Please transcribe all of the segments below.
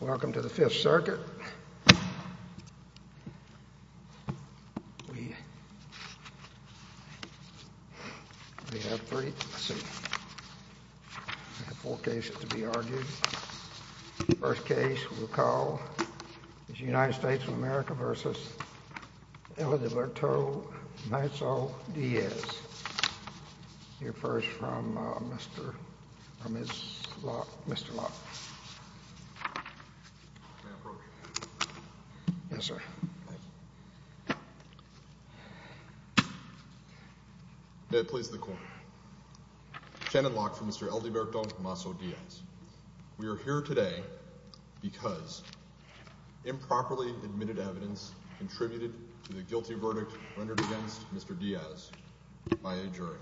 Welcome to the Fifth Circuit. We have four cases to be argued. The first case we'll call is United States of America v. Edilberto Naiso Diaz. He refers from Mr. Locke. May it please the Court. Shannon Locke for Mr. Edilberto Naiso Diaz. We are here today because improperly admitted evidence contributed to the guilty verdict rendered against Mr. Diaz by a jury.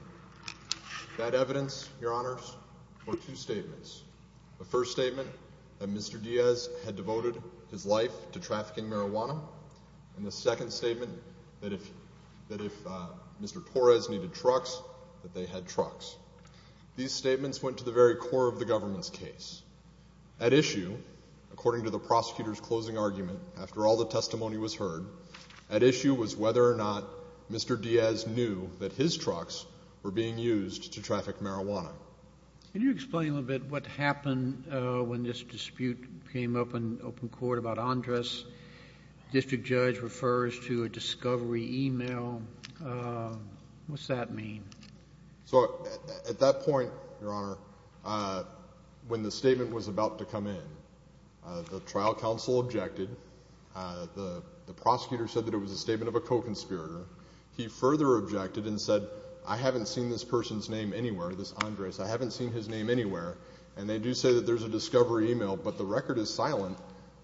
That evidence, Your Honors, were two statements. The first statement, that Mr. Diaz had devoted his life to trafficking marijuana. And the second statement, that if Mr. Torres needed trucks, that they had trucks. These statements went to the very core of the government's case. At issue, according to the prosecutor's closing argument, after all the testimony was heard, at issue was whether or not Mr. Diaz knew that his trucks were being used to traffic marijuana. Can you explain a little bit what happened when this dispute came up in open court about Andres? The district judge refers to a discovery email. What's that mean? So at that point, Your Honor, when the statement was about to come in, the trial counsel objected. The prosecutor said that it was a statement of a co-conspirator. He further objected and said, I haven't seen this person's name anywhere, this Andres. I haven't seen his name anywhere. And they do say that there's a discovery email, but the record is silent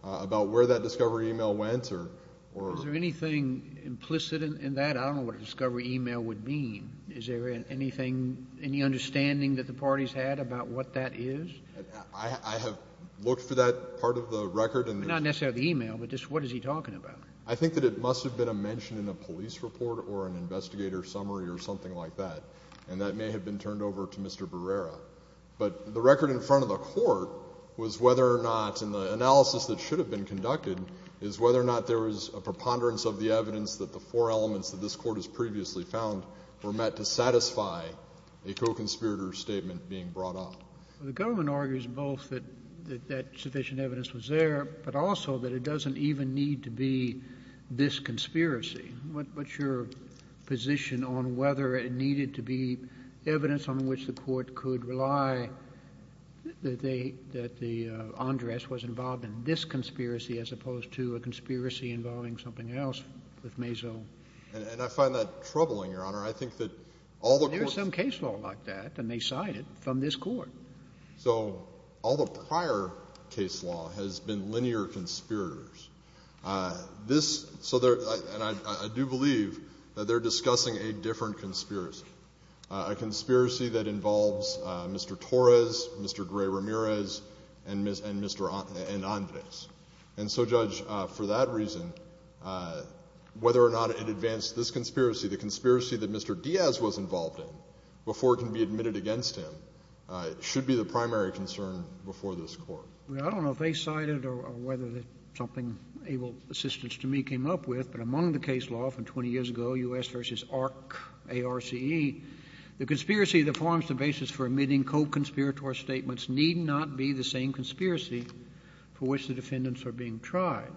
about where that discovery email went or — Is there anything implicit in that? I don't know what a discovery email would mean. Is there anything, any understanding that the parties had about what that is? I have looked for that part of the record. Not necessarily the email, but just what is he talking about? I think that it must have been a mention in a police report or an investigator summary or something like that, and that may have been turned over to Mr. Barrera. But the record in front of the Court was whether or not, and the analysis that should have been conducted, is whether or not there was a preponderance of the evidence that the four elements that this Court has previously found were met to satisfy a co-conspirator statement being brought up. The government argues both that that sufficient evidence was there, but also that it doesn't even need to be this conspiracy. What's your position on whether it needed to be evidence on which the Court could rely that they — that Andres was involved in this conspiracy as opposed to a conspiracy involving something else with Mazo? And I find that troubling, Your Honor. I think that all the courts— There's some case law like that, and they cite it from this Court. So all the prior case law has been linear conspirators. This — so they're — and I do believe that they're discussing a different conspiracy, a conspiracy that involves Mr. Torres, Mr. Gray-Ramirez, and Mr. — and Andres. And so, Judge, for that reason, whether or not it advanced this conspiracy, the conspiracy that Mr. Diaz was involved in before it can be admitted against him should be the primary concern before this Court. Well, I don't know if they cited or whether something able assistants to me came up with, but among the case law from 20 years ago, U.S. v. ARC, A-R-C-E, the conspiracy that forms the basis for admitting co-conspirator statements need not be the same conspiracy for which the defendants are being tried.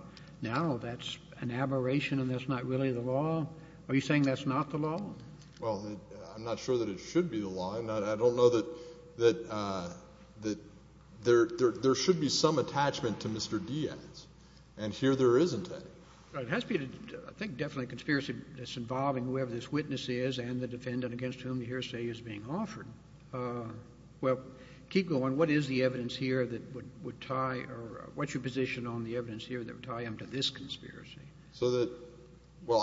Now, that's an aberration, and that's not really the law? Are you saying that's not the law? Well, I'm not sure that it should be the law. And I don't know that there should be some attachment to Mr. Diaz. And here there isn't any. Right. It has to be, I think, definitely a conspiracy that's involving whoever this witness is and the defendant against whom the hearsay is being offered. Well, keep going. What is the evidence here that would tie — or what's your position on the evidence here that would tie him to this conspiracy? So that — well,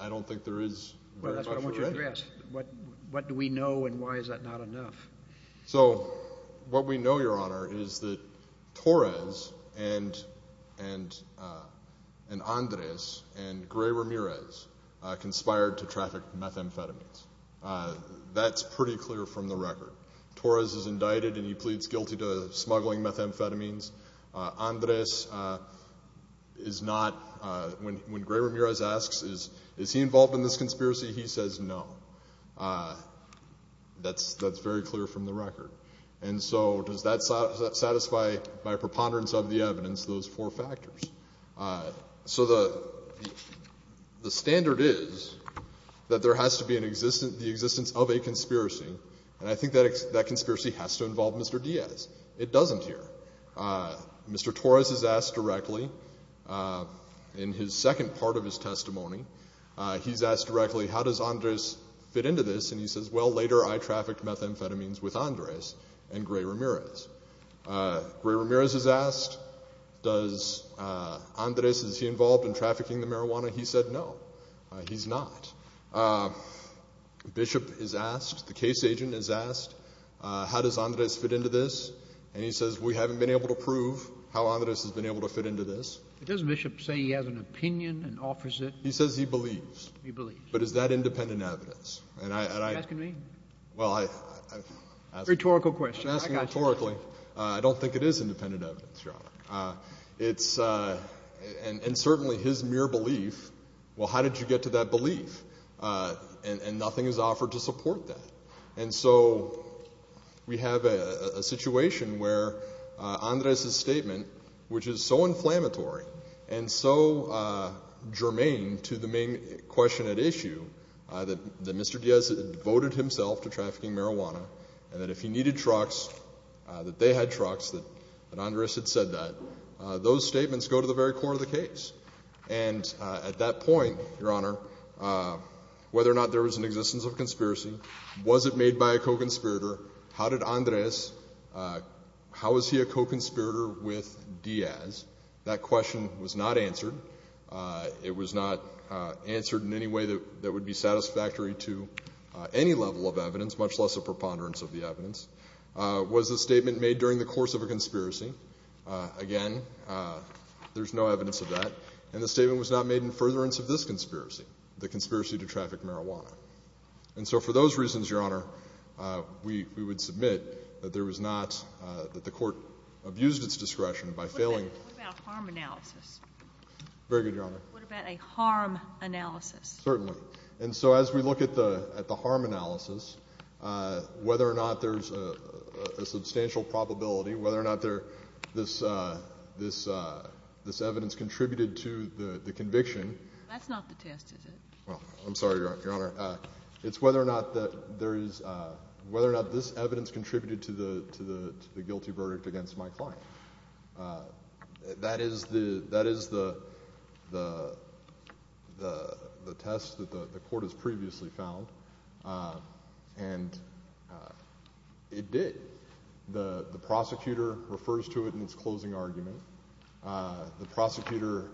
I don't think there is very much of it. Well, that's what I want you to address. What do we know, and why is that not enough? So what we know, Your Honor, is that Torres and Andres and Gray Ramirez conspired to traffic methamphetamines. That's pretty clear from the record. Torres is indicted, and he pleads guilty to smuggling methamphetamines. Andres is not — when Gray Ramirez asks, is he involved in this conspiracy, he says no. That's very clear from the record. And so does that satisfy, by preponderance of the evidence, those four factors? So the standard is that there has to be an existence — the existence of a conspiracy. And I think that conspiracy has to involve Mr. Diaz. It doesn't here. Mr. Torres is asked directly, in his second part of his testimony, he's asked directly, how does Andres fit into this? And he says, well, later I trafficked methamphetamines with Andres and Gray Ramirez. Gray Ramirez is asked, does Andres — is he involved in trafficking the marijuana? He said no, he's not. Bishop is asked, the case agent is asked, how does Andres fit into this? And he says, we haven't been able to prove how Andres has been able to fit into this. But doesn't Bishop say he has an opinion and offers it? He says he believes. He believes. But is that independent evidence? Are you asking me? Well, I — Rhetorical question. I got you. I'm asking rhetorically. I don't think it is independent evidence, Your Honor. It's — and certainly his mere belief, well, how did you get to that belief? And nothing is offered to support that. And so we have a situation where Andres' statement, which is so inflammatory and so germane to the main question at issue, that Mr. Diaz devoted himself to trafficking marijuana, and that if he needed trucks, that they had trucks, that Andres had said that. Those statements go to the very core of the case. And at that point, Your Honor, whether or not there was an existence of conspiracy, was it made by a co-conspirator, how did Andres — how is he a co-conspirator with Diaz? That question was not answered. It was not answered in any way that would be satisfactory to any level of evidence, much less a preponderance of the evidence. Was the statement made during the course of a conspiracy? Again, there's no evidence of that. And the statement was not made in furtherance of this conspiracy, the conspiracy to traffic marijuana. And so for those reasons, Your Honor, we would submit that there was not — that the Court abused its discretion by failing — Very good, Your Honor. What about a harm analysis? Certainly. And so as we look at the harm analysis, whether or not there's a substantial probability, whether or not this evidence contributed to the conviction — That's not the test, is it? I'm sorry, Your Honor. It's whether or not this evidence contributed to the guilty verdict against my client. That is the test that the Court has previously found, and it did. The prosecutor refers to it in its closing argument. The prosecutor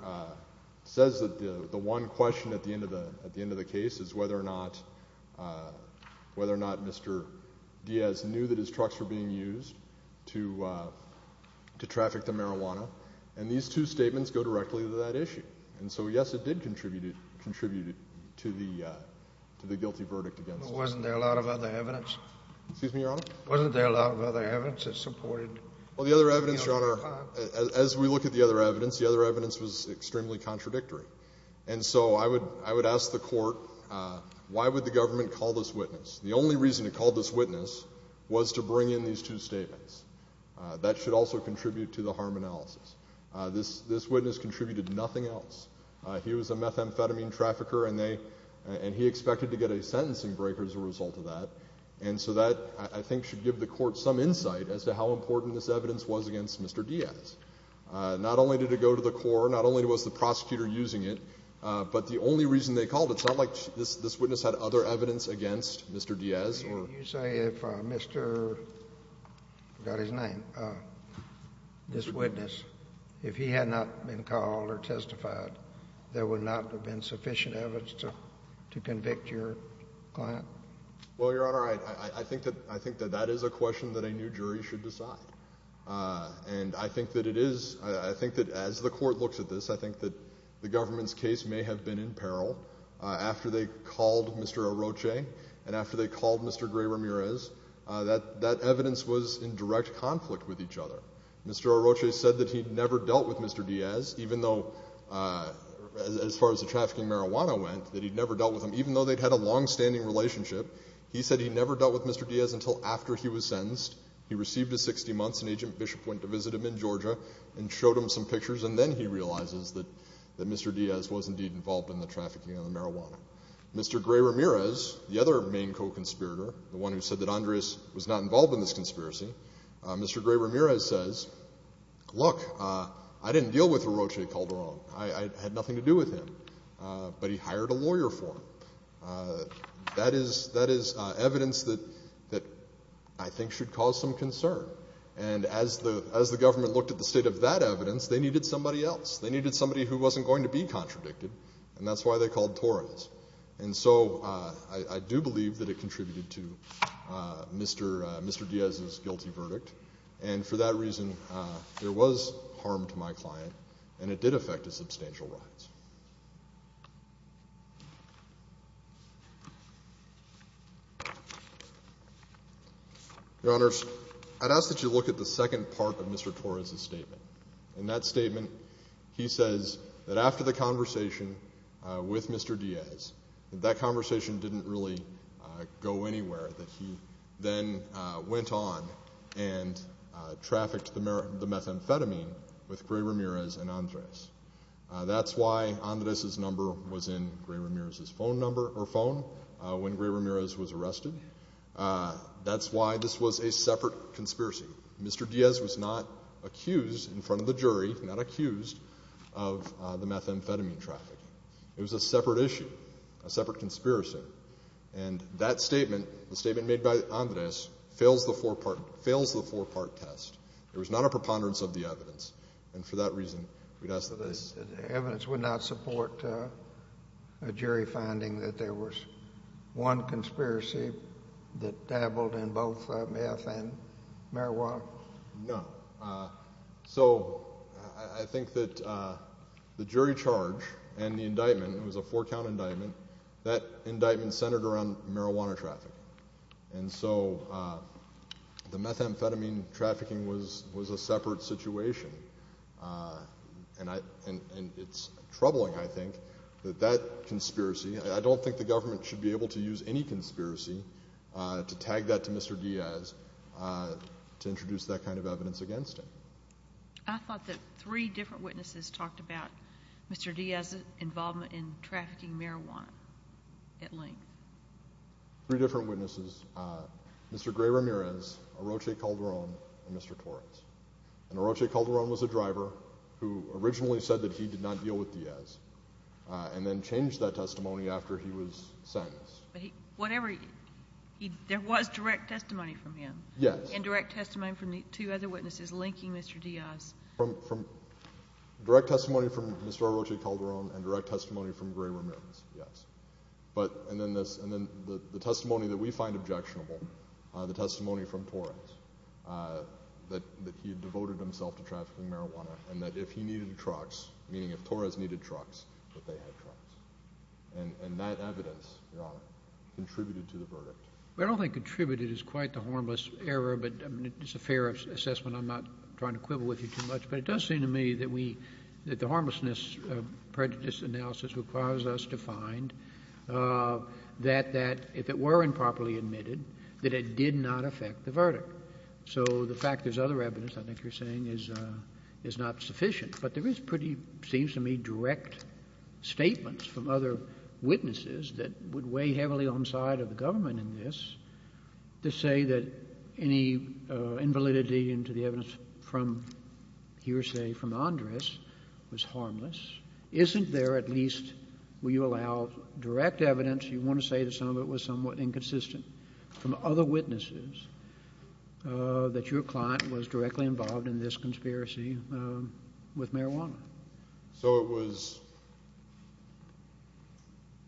says that the one question at the end of the case is whether or not Mr. Diaz knew that his trucks were being used to traffic the marijuana. And these two statements go directly to that issue. And so, yes, it did contribute to the guilty verdict against him. But wasn't there a lot of other evidence? Excuse me, Your Honor? Wasn't there a lot of other evidence that supported — Well, the other evidence, Your Honor, as we look at the other evidence, the other evidence was extremely contradictory. And so I would ask the Court, why would the government call this witness? The only reason it called this witness was to bring in these two statements. That should also contribute to the harm analysis. This witness contributed nothing else. He was a methamphetamine trafficker, and he expected to get a sentencing breaker as a result of that. And so that, I think, should give the Court some insight as to how important this evidence was against Mr. Diaz. Not only did it go to the court, not only was the prosecutor using it, but the only reason they called it. It's not like this witness had other evidence against Mr. Diaz or — Can you say if Mr. — I forgot his name — this witness, if he had not been called or testified, there would not have been sufficient evidence to convict your client? Well, Your Honor, I think that that is a question that a new jury should decide. And I think that it is — I think that as the Court looks at this, I think that the government's case may have been in peril. After they called Mr. Oroche and after they called Mr. Gray-Ramirez, that evidence was in direct conflict with each other. Mr. Oroche said that he'd never dealt with Mr. Diaz, even though, as far as the trafficking marijuana went, that he'd never dealt with him, even though they'd had a longstanding relationship. He said he'd never dealt with Mr. Diaz until after he was sentenced. He received his 60 months, and Agent Bishop went to visit him in Georgia and showed him some pictures, and then he realizes that Mr. Diaz was indeed involved in the trafficking of the marijuana. Mr. Gray-Ramirez, the other main co-conspirator, the one who said that Andres was not involved in this conspiracy, Mr. Gray-Ramirez says, look, I didn't deal with Oroche Calderon. I had nothing to do with him, but he hired a lawyer for him. That is evidence that I think should cause some concern. And as the government looked at the state of that evidence, they needed somebody else. They needed somebody who wasn't going to be contradicted, and that's why they called Torres. And so I do believe that it contributed to Mr. Diaz's guilty verdict, and for that reason there was harm to my client, and it did affect a substantial rise. Your Honors, I'd ask that you look at the second part of Mr. Torres's statement. In that statement, he says that after the conversation with Mr. Diaz, that that conversation didn't really go anywhere, that he then went on and trafficked the methamphetamine with Gray-Ramirez and Andres. That's why Andres's number was in Gray-Ramirez's phone number or phone when Gray-Ramirez was arrested. That's why this was a separate conspiracy. Mr. Diaz was not accused in front of the jury, not accused, of the methamphetamine trafficking. It was a separate issue, a separate conspiracy. And that statement, the statement made by Andres, fails the four-part test. It was not a preponderance of the evidence. And for that reason, we'd ask that they— The evidence would not support a jury finding that there was one conspiracy that dabbled in both meth and marijuana? No. So I think that the jury charge and the indictment—it was a four-count indictment— that indictment centered around marijuana trafficking. And so the methamphetamine trafficking was a separate situation. And it's troubling, I think, that that conspiracy— I don't think the government should be able to use any conspiracy to tag that to Mr. Diaz to introduce that kind of evidence against him. I thought that three different witnesses talked about Mr. Diaz's involvement in trafficking marijuana at length. Three different witnesses, Mr. Gray-Ramirez, Oroche Calderon, and Mr. Torres. And Oroche Calderon was a driver who originally said that he did not deal with Diaz and then changed that testimony after he was sentenced. But whatever—there was direct testimony from him? Yes. And direct testimony from the two other witnesses linking Mr. Diaz? Direct testimony from Mr. Oroche Calderon and direct testimony from Gray-Ramirez, yes. And then the testimony that we find objectionable, the testimony from Torres, that he had devoted himself to trafficking marijuana and that if he needed trucks, meaning if Torres needed trucks, that they had trucks. And that evidence, Your Honor, contributed to the verdict. I don't think contributed is quite the harmless error, but it's a fair assessment. I'm not trying to quibble with you too much. But it does seem to me that we—that the harmlessness prejudice analysis requires us to find that if it were improperly admitted, that it did not affect the verdict. So the fact there's other evidence, I think you're saying, is not sufficient. But there is pretty, seems to me, direct statements from other witnesses that would weigh heavily on the side of the government in this to say that any invalidity into the evidence from he or she, from Andres, was harmless. Isn't there at least, will you allow, direct evidence, you want to say that some of it was somewhat inconsistent, from other witnesses, that your client was directly involved in this conspiracy with marijuana? So it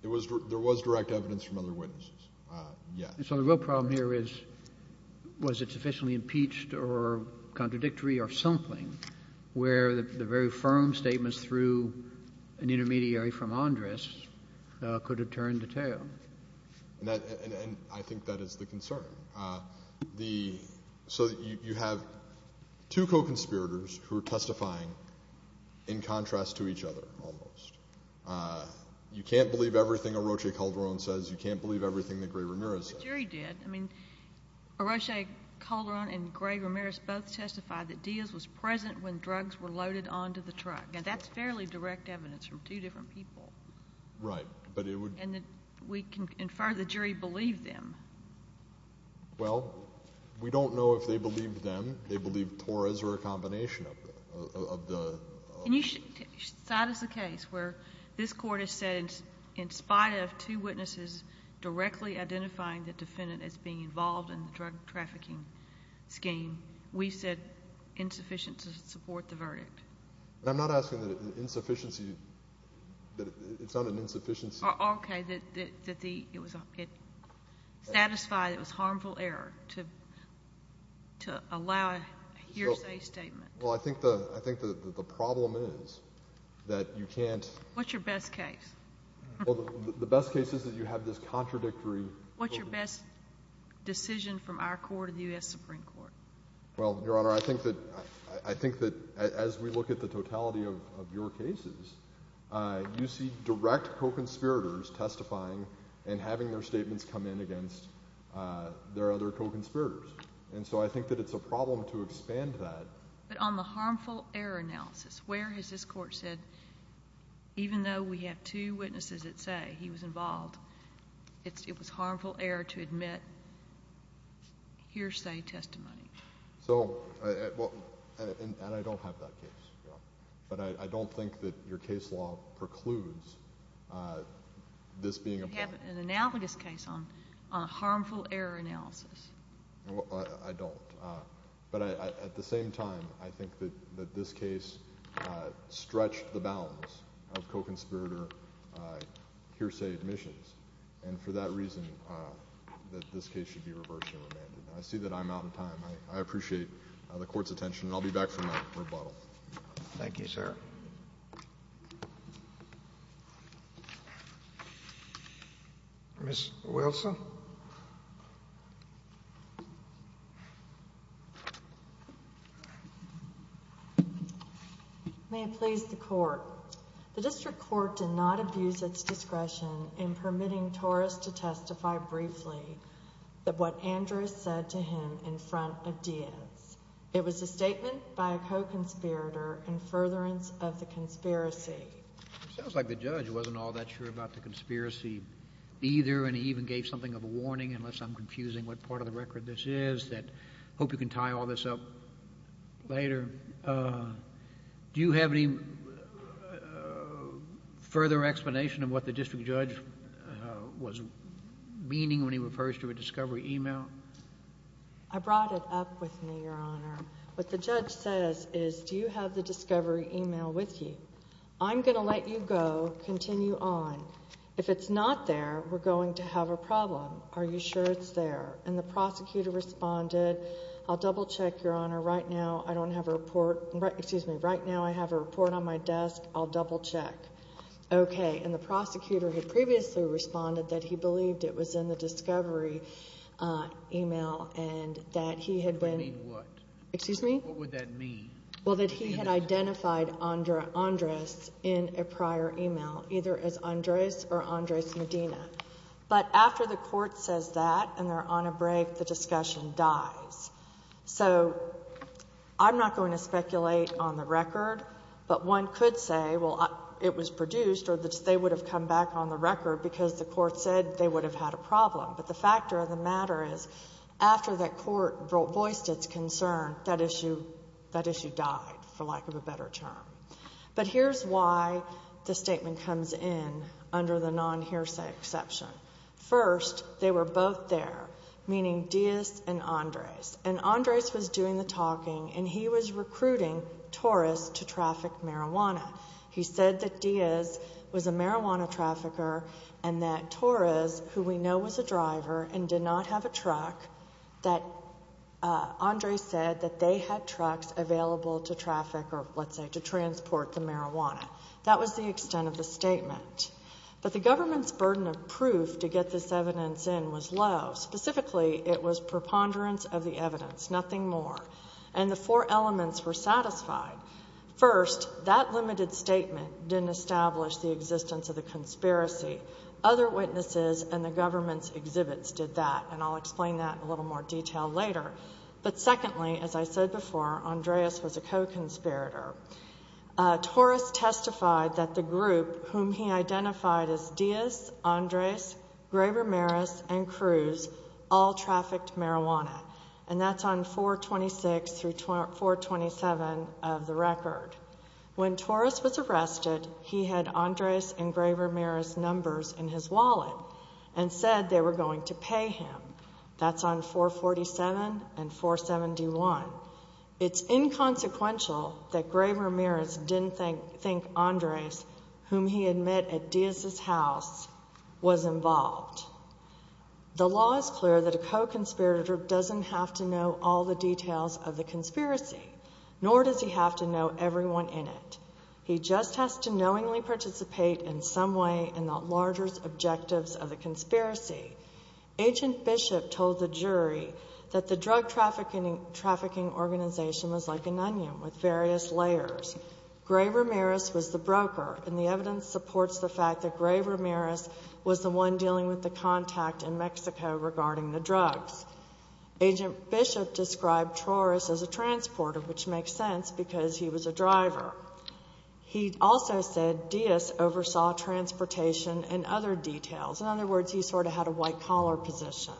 was—there was direct evidence from other witnesses, yes. So the real problem here is, was it sufficiently impeached or contradictory or something where the very firm statements through an intermediary from Andres could have turned the tale? And I think that is the concern. So you have two co-conspirators who are testifying in contrast to each other, almost. You can't believe everything Oroche Calderon says. You can't believe everything that Gray-Ramirez says. But you already did. I mean, Oroche Calderon and Gray-Ramirez both testified that Diaz was present when drugs were loaded onto the truck. Now, that's fairly direct evidence from two different people. Right. But it would— And we can infer the jury believed them. Well, we don't know if they believed them. They believed Torres or a combination of the— And you should cite as a case where this Court has said in spite of two witnesses directly identifying the defendant as being involved in the drug trafficking scheme, we said insufficient to support the verdict. I'm not asking that an insufficiency—that it's not an insufficiency. Okay. That the—it satisfied—it was harmful error to allow a hearsay statement. Well, I think the problem is that you can't— What's your best case? Well, the best case is that you have this contradictory— What's your best decision from our court or the U.S. Supreme Court? Well, Your Honor, I think that as we look at the totality of your cases, you see direct co-conspirators testifying and having their statements come in against their other co-conspirators. And so I think that it's a problem to expand that. But on the harmful error analysis, where has this Court said, even though we have two witnesses that say he was involved, it was harmful error to admit hearsay testimony? So—and I don't have that case, Your Honor. But I don't think that your case law precludes this being a problem. You have an analogous case on harmful error analysis. Well, I don't. But at the same time, I think that this case stretched the bounds of co-conspirator hearsay admissions. And for that reason, this case should be reversed and remanded. I see that I'm out of time. I appreciate the Court's attention, and I'll be back for my rebuttal. Thank you, sir. Ms. Wilson? May it please the Court. The district court did not abuse its discretion in permitting Torres to testify briefly of what Andrews said to him in front of Diaz. It was a statement by a co-conspirator in furtherance of the conspiracy. It sounds like the judge wasn't all that sure about the conspiracy either, and he even gave something of a warning, unless I'm confusing what part of the record this is, that I hope you can tie all this up later. Do you have any further explanation of what the district judge was meaning when he refers to a discovery email? I brought it up with me, Your Honor. What the judge says is, do you have the discovery email with you? I'm going to let you go. Continue on. If it's not there, we're going to have a problem. Are you sure it's there? And the prosecutor responded, I'll double-check, Your Honor. Right now I don't have a report. Excuse me. Right now I have a report on my desk. I'll double-check. Okay. And the prosecutor had previously responded that he believed it was in the discovery email and that he had been. What do you mean what? Excuse me? What would that mean? Well, that he had identified Andres in a prior email, either as Andres or Andres Medina. But after the court says that and they're on a break, the discussion dies. So I'm not going to speculate on the record, but one could say, well, it was produced or they would have come back on the record because the court said they would have had a problem. But the factor of the matter is, after that court voiced its concern, that issue died, for lack of a better term. But here's why the statement comes in under the non-hearsay exception. First, they were both there, meaning Diaz and Andres. And Andres was doing the talking, and he was recruiting Torres to traffic marijuana. He said that Diaz was a marijuana trafficker and that Torres, who we know was a driver and did not have a truck, that Andres said that they had trucks available to traffic or, let's say, to transport the marijuana. That was the extent of the statement. But the government's burden of proof to get this evidence in was low. Specifically, it was preponderance of the evidence, nothing more. And the four elements were satisfied. First, that limited statement didn't establish the existence of the conspiracy. Other witnesses and the government's exhibits did that, and I'll explain that in a little more detail later. But secondly, as I said before, Andres was a co-conspirator. Torres testified that the group whom he identified as Diaz, Andres, Graber-Merez, and Cruz all trafficked marijuana. And that's on 426 through 427 of the record. When Torres was arrested, he had Andres and Graber-Merez numbers in his wallet and said they were going to pay him. That's on 447 and 471. It's inconsequential that Graber-Merez didn't think Andres, whom he had met at Diaz's house, was involved. The law is clear that a co-conspirator doesn't have to know all the details of the conspiracy, nor does he have to know everyone in it. He just has to knowingly participate in some way in the larger objectives of the conspiracy. Agent Bishop told the jury that the drug trafficking organization was like an onion with various layers. Graber-Merez was the broker, and the evidence supports the fact that Graber-Merez was the one dealing with the contact in Mexico regarding the drugs. Agent Bishop described Torres as a transporter, which makes sense because he was a driver. He also said Diaz oversaw transportation and other details. In other words, he sort of had a white-collar position.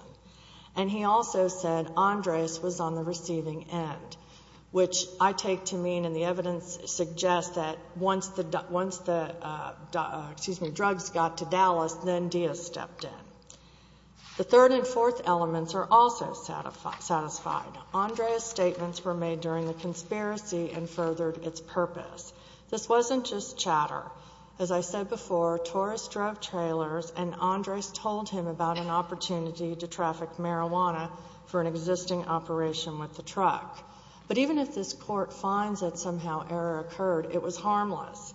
And he also said Andres was on the receiving end, which I take to mean, and the evidence suggests, that once the drugs got to Dallas, then Diaz stepped in. The third and fourth elements are also satisfied. Andres' statements were made during the conspiracy and furthered its purpose. This wasn't just chatter. As I said before, Torres drove trailers, and Andres told him about an opportunity to traffic marijuana for an existing operation with the truck. But even if this Court finds that somehow error occurred, it was harmless.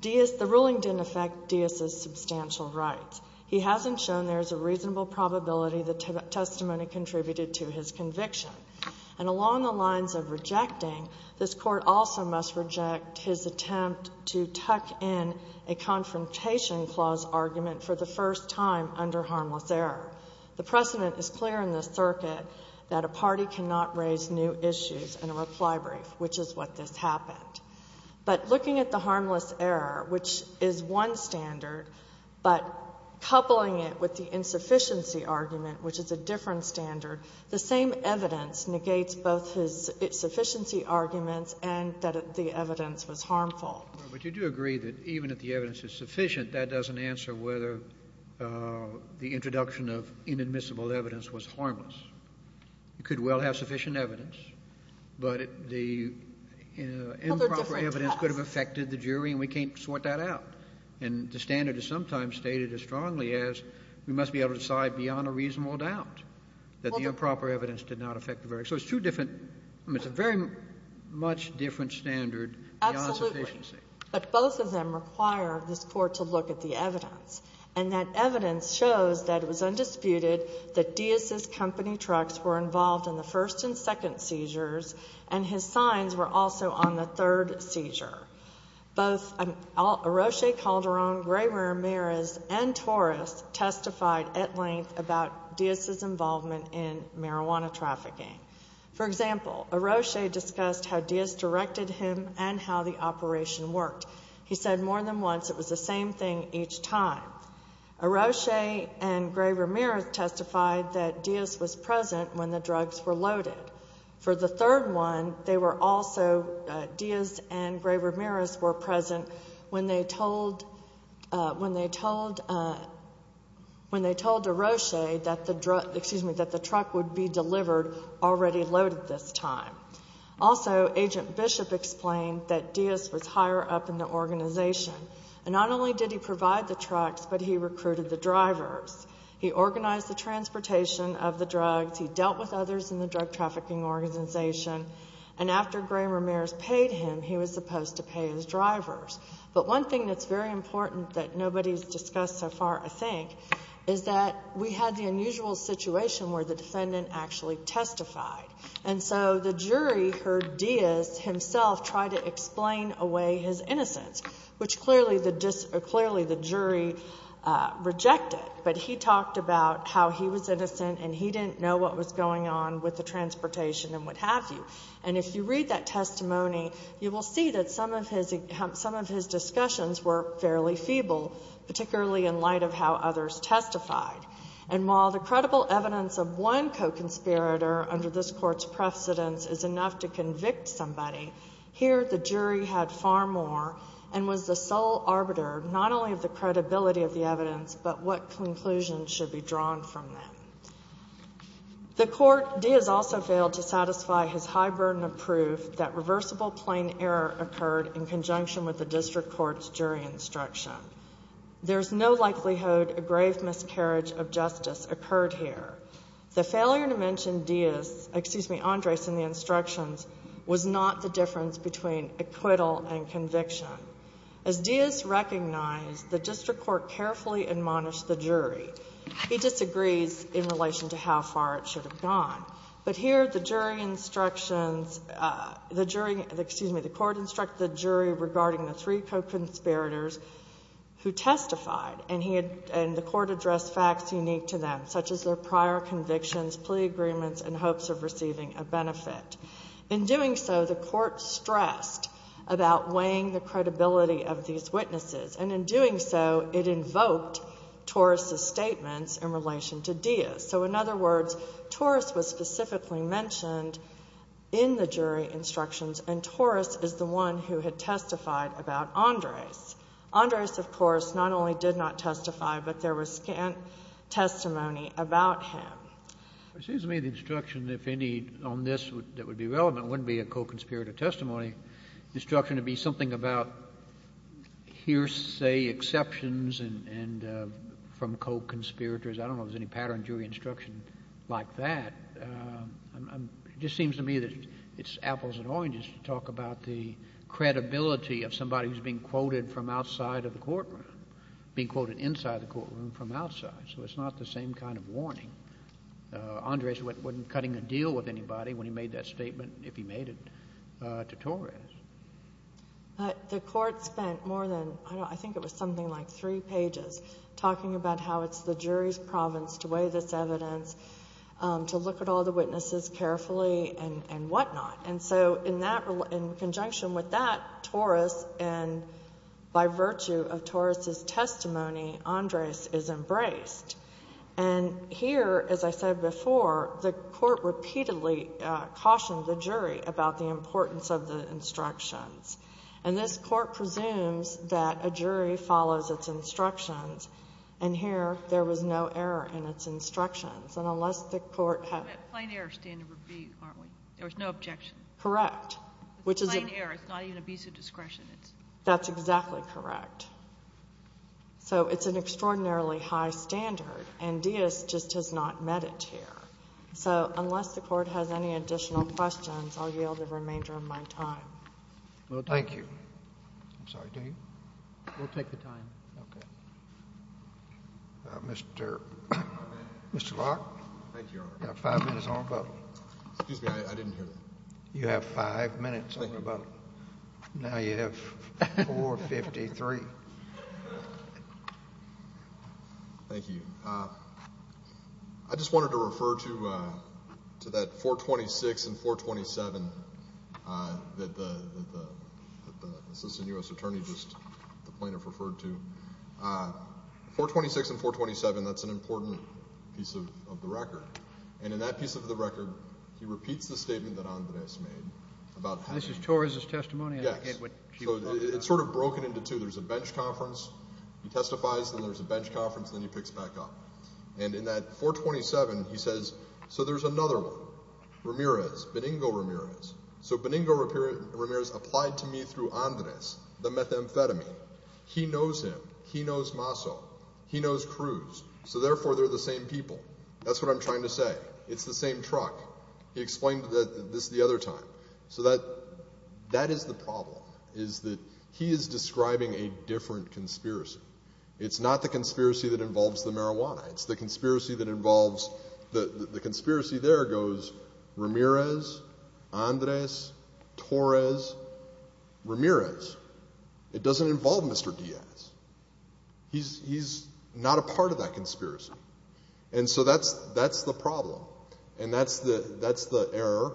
The ruling didn't affect Diaz's substantial rights. He hasn't shown there's a reasonable probability the testimony contributed to his conviction. And along the lines of rejecting, this Court also must reject his attempt to tuck in a confrontation clause argument for the first time under harmless error. The precedent is clear in this circuit that a party cannot raise new issues in a reply brief, which is what this happened. But looking at the harmless error, which is one standard, but coupling it with the insufficiency argument, which is a different standard, the same evidence negates both his insufficiency arguments and that the evidence was harmful. Kennedy. But you do agree that even if the evidence is sufficient, that doesn't answer whether the introduction of inadmissible evidence was harmless. It could well have sufficient evidence. But the improper evidence could have affected the jury, and we can't sort that out. And the standard is sometimes stated as strongly as we must be able to decide beyond a reasonable doubt that the improper evidence did not affect the verdict. So it's two different — it's a very much different standard beyond sufficiency. Absolutely. But both of them require this Court to look at the evidence. And that evidence shows that it was undisputed that Diaz's company trucks were involved in the first and second seizures, and his signs were also on the third seizure. Both Arroche Calderon, Gray-Ramirez, and Torres testified at length about Diaz's involvement in marijuana trafficking. For example, Arroche discussed how Diaz directed him and how the operation worked. He said more than once it was the same thing each time. Arroche and Gray-Ramirez testified that Diaz was present when the drugs were loaded. For the third one, they were also — Diaz and Gray-Ramirez were present when they told — when they told Arroche that the truck would be delivered already loaded this time. Also, Agent Bishop explained that Diaz was higher up in the organization. And not only did he provide the trucks, but he recruited the drivers. He organized the transportation of the drugs. He dealt with others in the drug trafficking organization. And after Gray-Ramirez paid him, he was supposed to pay his drivers. But one thing that's very important that nobody's discussed so far, I think, is that we had the unusual situation where the defendant actually testified. And so the jury heard Diaz himself try to explain away his innocence, which clearly the jury rejected. But he talked about how he was innocent and he didn't know what was going on with the transportation and what have you. And if you read that testimony, you will see that some of his discussions were fairly feeble, particularly in light of how others testified. And while the credible evidence of one co-conspirator under this Court's precedence is enough to convict somebody, here the jury had far more and was the sole arbiter not only of the credibility of the evidence, but what conclusions should be drawn from them. The Court, Diaz also failed to satisfy his high burden of proof that reversible plain error occurred in conjunction with the district court's jury instruction. There's no likelihood a grave miscarriage of justice occurred here. The failure to mention Diaz, excuse me, Andres in the instructions, was not the difference between acquittal and conviction. As Diaz recognized, the district court carefully admonished the jury. He disagrees in relation to how far it should have gone. But here the jury instructions, the jury, excuse me, the court instructed the jury regarding the three co-conspirators who testified. And he had the court address facts unique to them, such as their prior convictions, plea agreements, and hopes of receiving a benefit. In doing so, the court stressed about weighing the credibility of these witnesses. And in doing so, it invoked Torres' statements in relation to Diaz. So in other words, Torres was specifically mentioned in the jury instructions, and Torres is the one who had testified about Andres. Andres, of course, not only did not testify, but there was testimony about him. Kennedy, it seems to me the instruction, if any, on this that would be relevant wouldn't be a co-conspirator testimony. The instruction would be something about hearsay exceptions and from co-conspirators. I don't know if there's any pattern jury instruction like that. It just seems to me that it's apples and oranges to talk about the credibility of somebody who's being quoted from outside of the courtroom, being quoted inside the courtroom from outside. So it's not the same kind of warning. Andres wasn't cutting a deal with anybody when he made that statement, if he made it, to Torres. The court spent more than, I think it was something like three pages, talking about how it's the jury's province to weigh this evidence, to look at all the witnesses carefully and whatnot. And so in that, in conjunction with that, Torres and by virtue of Torres' testimony, Andres is embraced. And here, as I said before, the court repeatedly cautioned the jury about the importance of the instructions. And this court presumes that a jury follows its instructions, and here there was no error in its instructions. And unless the court has to. The plain error standard would be, aren't we? There was no objection. Correct. The plain error is not even a piece of discretion. That's exactly correct. So it's an extraordinarily high standard, and Diaz just has not met it here. So unless the Court has any additional questions, I'll yield the remainder of my time. Thank you. I'm sorry. Do you? We'll take the time. Okay. Mr. Clark. Thank you, Your Honor. You have five minutes on the button. Excuse me. I didn't hear that. You have five minutes on the button. Thank you. Now you have 4.53. Thank you. I just wanted to refer to that 4.26 and 4.27 that the Assistant U.S. Attorney, the plaintiff referred to. 4.26 and 4.27, that's an important piece of the record. And in that piece of the record, he repeats the statement that Andres made. This is Torres' testimony? Yes. So it's sort of broken into two. There's a bench conference. He testifies, then there's a bench conference, then he picks back up. And in that 4.27, he says, so there's another one, Ramirez, Benigno Ramirez. So Benigno Ramirez applied to me through Andres the methamphetamine. He knows him. He knows Maso. He knows Cruz. So therefore, they're the same people. That's what I'm trying to say. It's the same truck. He explained this the other time. So that is the problem, is that he is describing a different conspiracy. It's not the conspiracy that involves the marijuana. It's the conspiracy that involves the conspiracy there goes Ramirez, Andres, Torres, Ramirez. It doesn't involve Mr. Diaz. He's not a part of that conspiracy. And so that's the problem, and that's the error.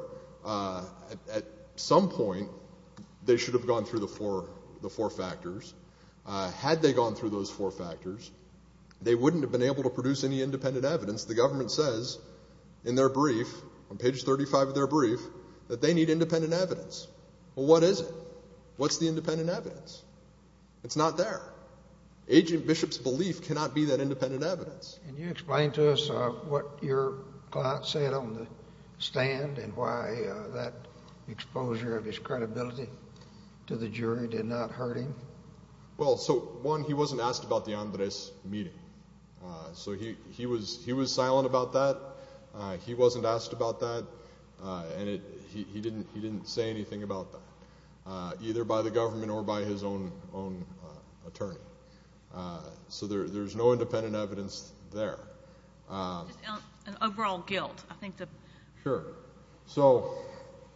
At some point, they should have gone through the four factors. Had they gone through those four factors, they wouldn't have been able to produce any independent evidence. The government says in their brief, on page 35 of their brief, that they need independent evidence. Well, what is it? What's the independent evidence? It's not there. Agent Bishop's belief cannot be that independent evidence. Can you explain to us what your client said on the stand and why that exposure of his credibility to the jury did not hurt him? Well, so, one, he wasn't asked about the Andres meeting. So he was silent about that. He wasn't asked about that, and he didn't say anything about that, either by the government or by his own attorney. So there's no independent evidence there. Just an overall guilt, I think. Sure. So,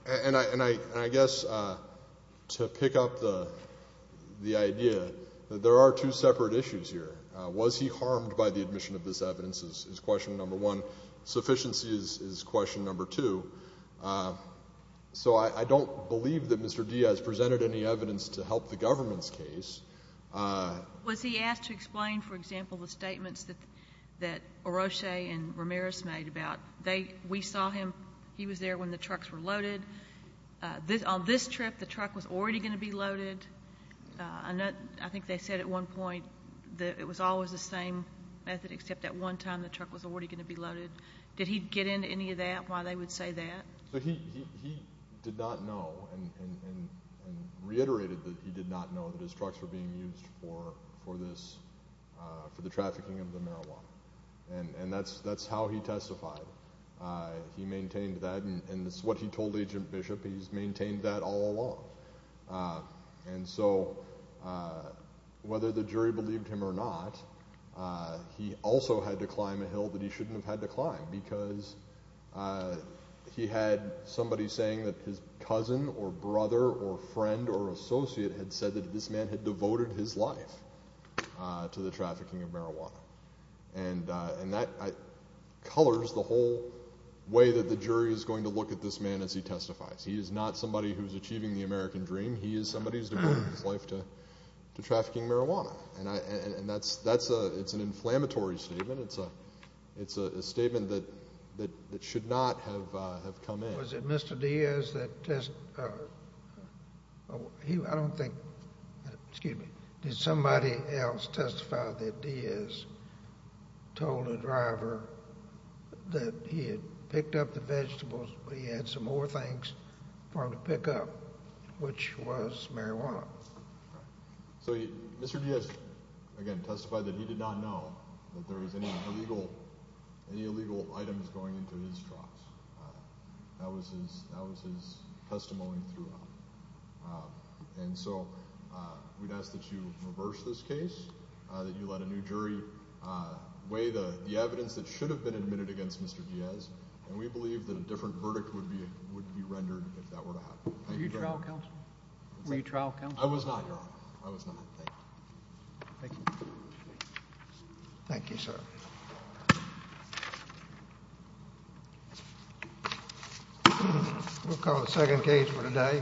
and I guess to pick up the idea that there are two separate issues here. Was he harmed by the admission of this evidence is question number one. Sufficiency is question number two. So I don't believe that Mr. Diaz presented any evidence to help the government's case. Was he asked to explain, for example, the statements that Oroche and Ramirez made about, we saw him, he was there when the trucks were loaded. On this trip, the truck was already going to be loaded. I think they said at one point that it was always the same method, except at one time the truck was already going to be loaded. Did he get into any of that, why they would say that? So he did not know and reiterated that he did not know that his trucks were being used for this, for the trafficking of the marijuana. And that's how he testified. He maintained that, and it's what he told Agent Bishop. He's maintained that all along. And so whether the jury believed him or not, he also had to climb a hill that he shouldn't have had to climb because he had somebody saying that his cousin or brother or friend or associate had said that this man had devoted his life to the trafficking of marijuana. And that colors the whole way that the jury is going to look at this man as he testifies. He is not somebody who is achieving the American dream. He is somebody who has devoted his life to trafficking marijuana. And that's an inflammatory statement. It's a statement that should not have come in. Was it Mr. Diaz that test—I don't think—excuse me. Did somebody else testify that Diaz told a driver that he had picked up the vegetables, but he had some more things for him to pick up, which was marijuana? So Mr. Diaz, again, testified that he did not know that there was any illegal items going into his trucks. That was his testimony throughout. And so we'd ask that you reverse this case, that you let a new jury weigh the evidence that should have been admitted against Mr. Diaz, and we believe that a different verdict would be rendered if that were to happen. Thank you very much. Were you trial counsel? I was not, Your Honor. I was not. Thank you. Thank you. Thank you, sir. We'll call the second case for today.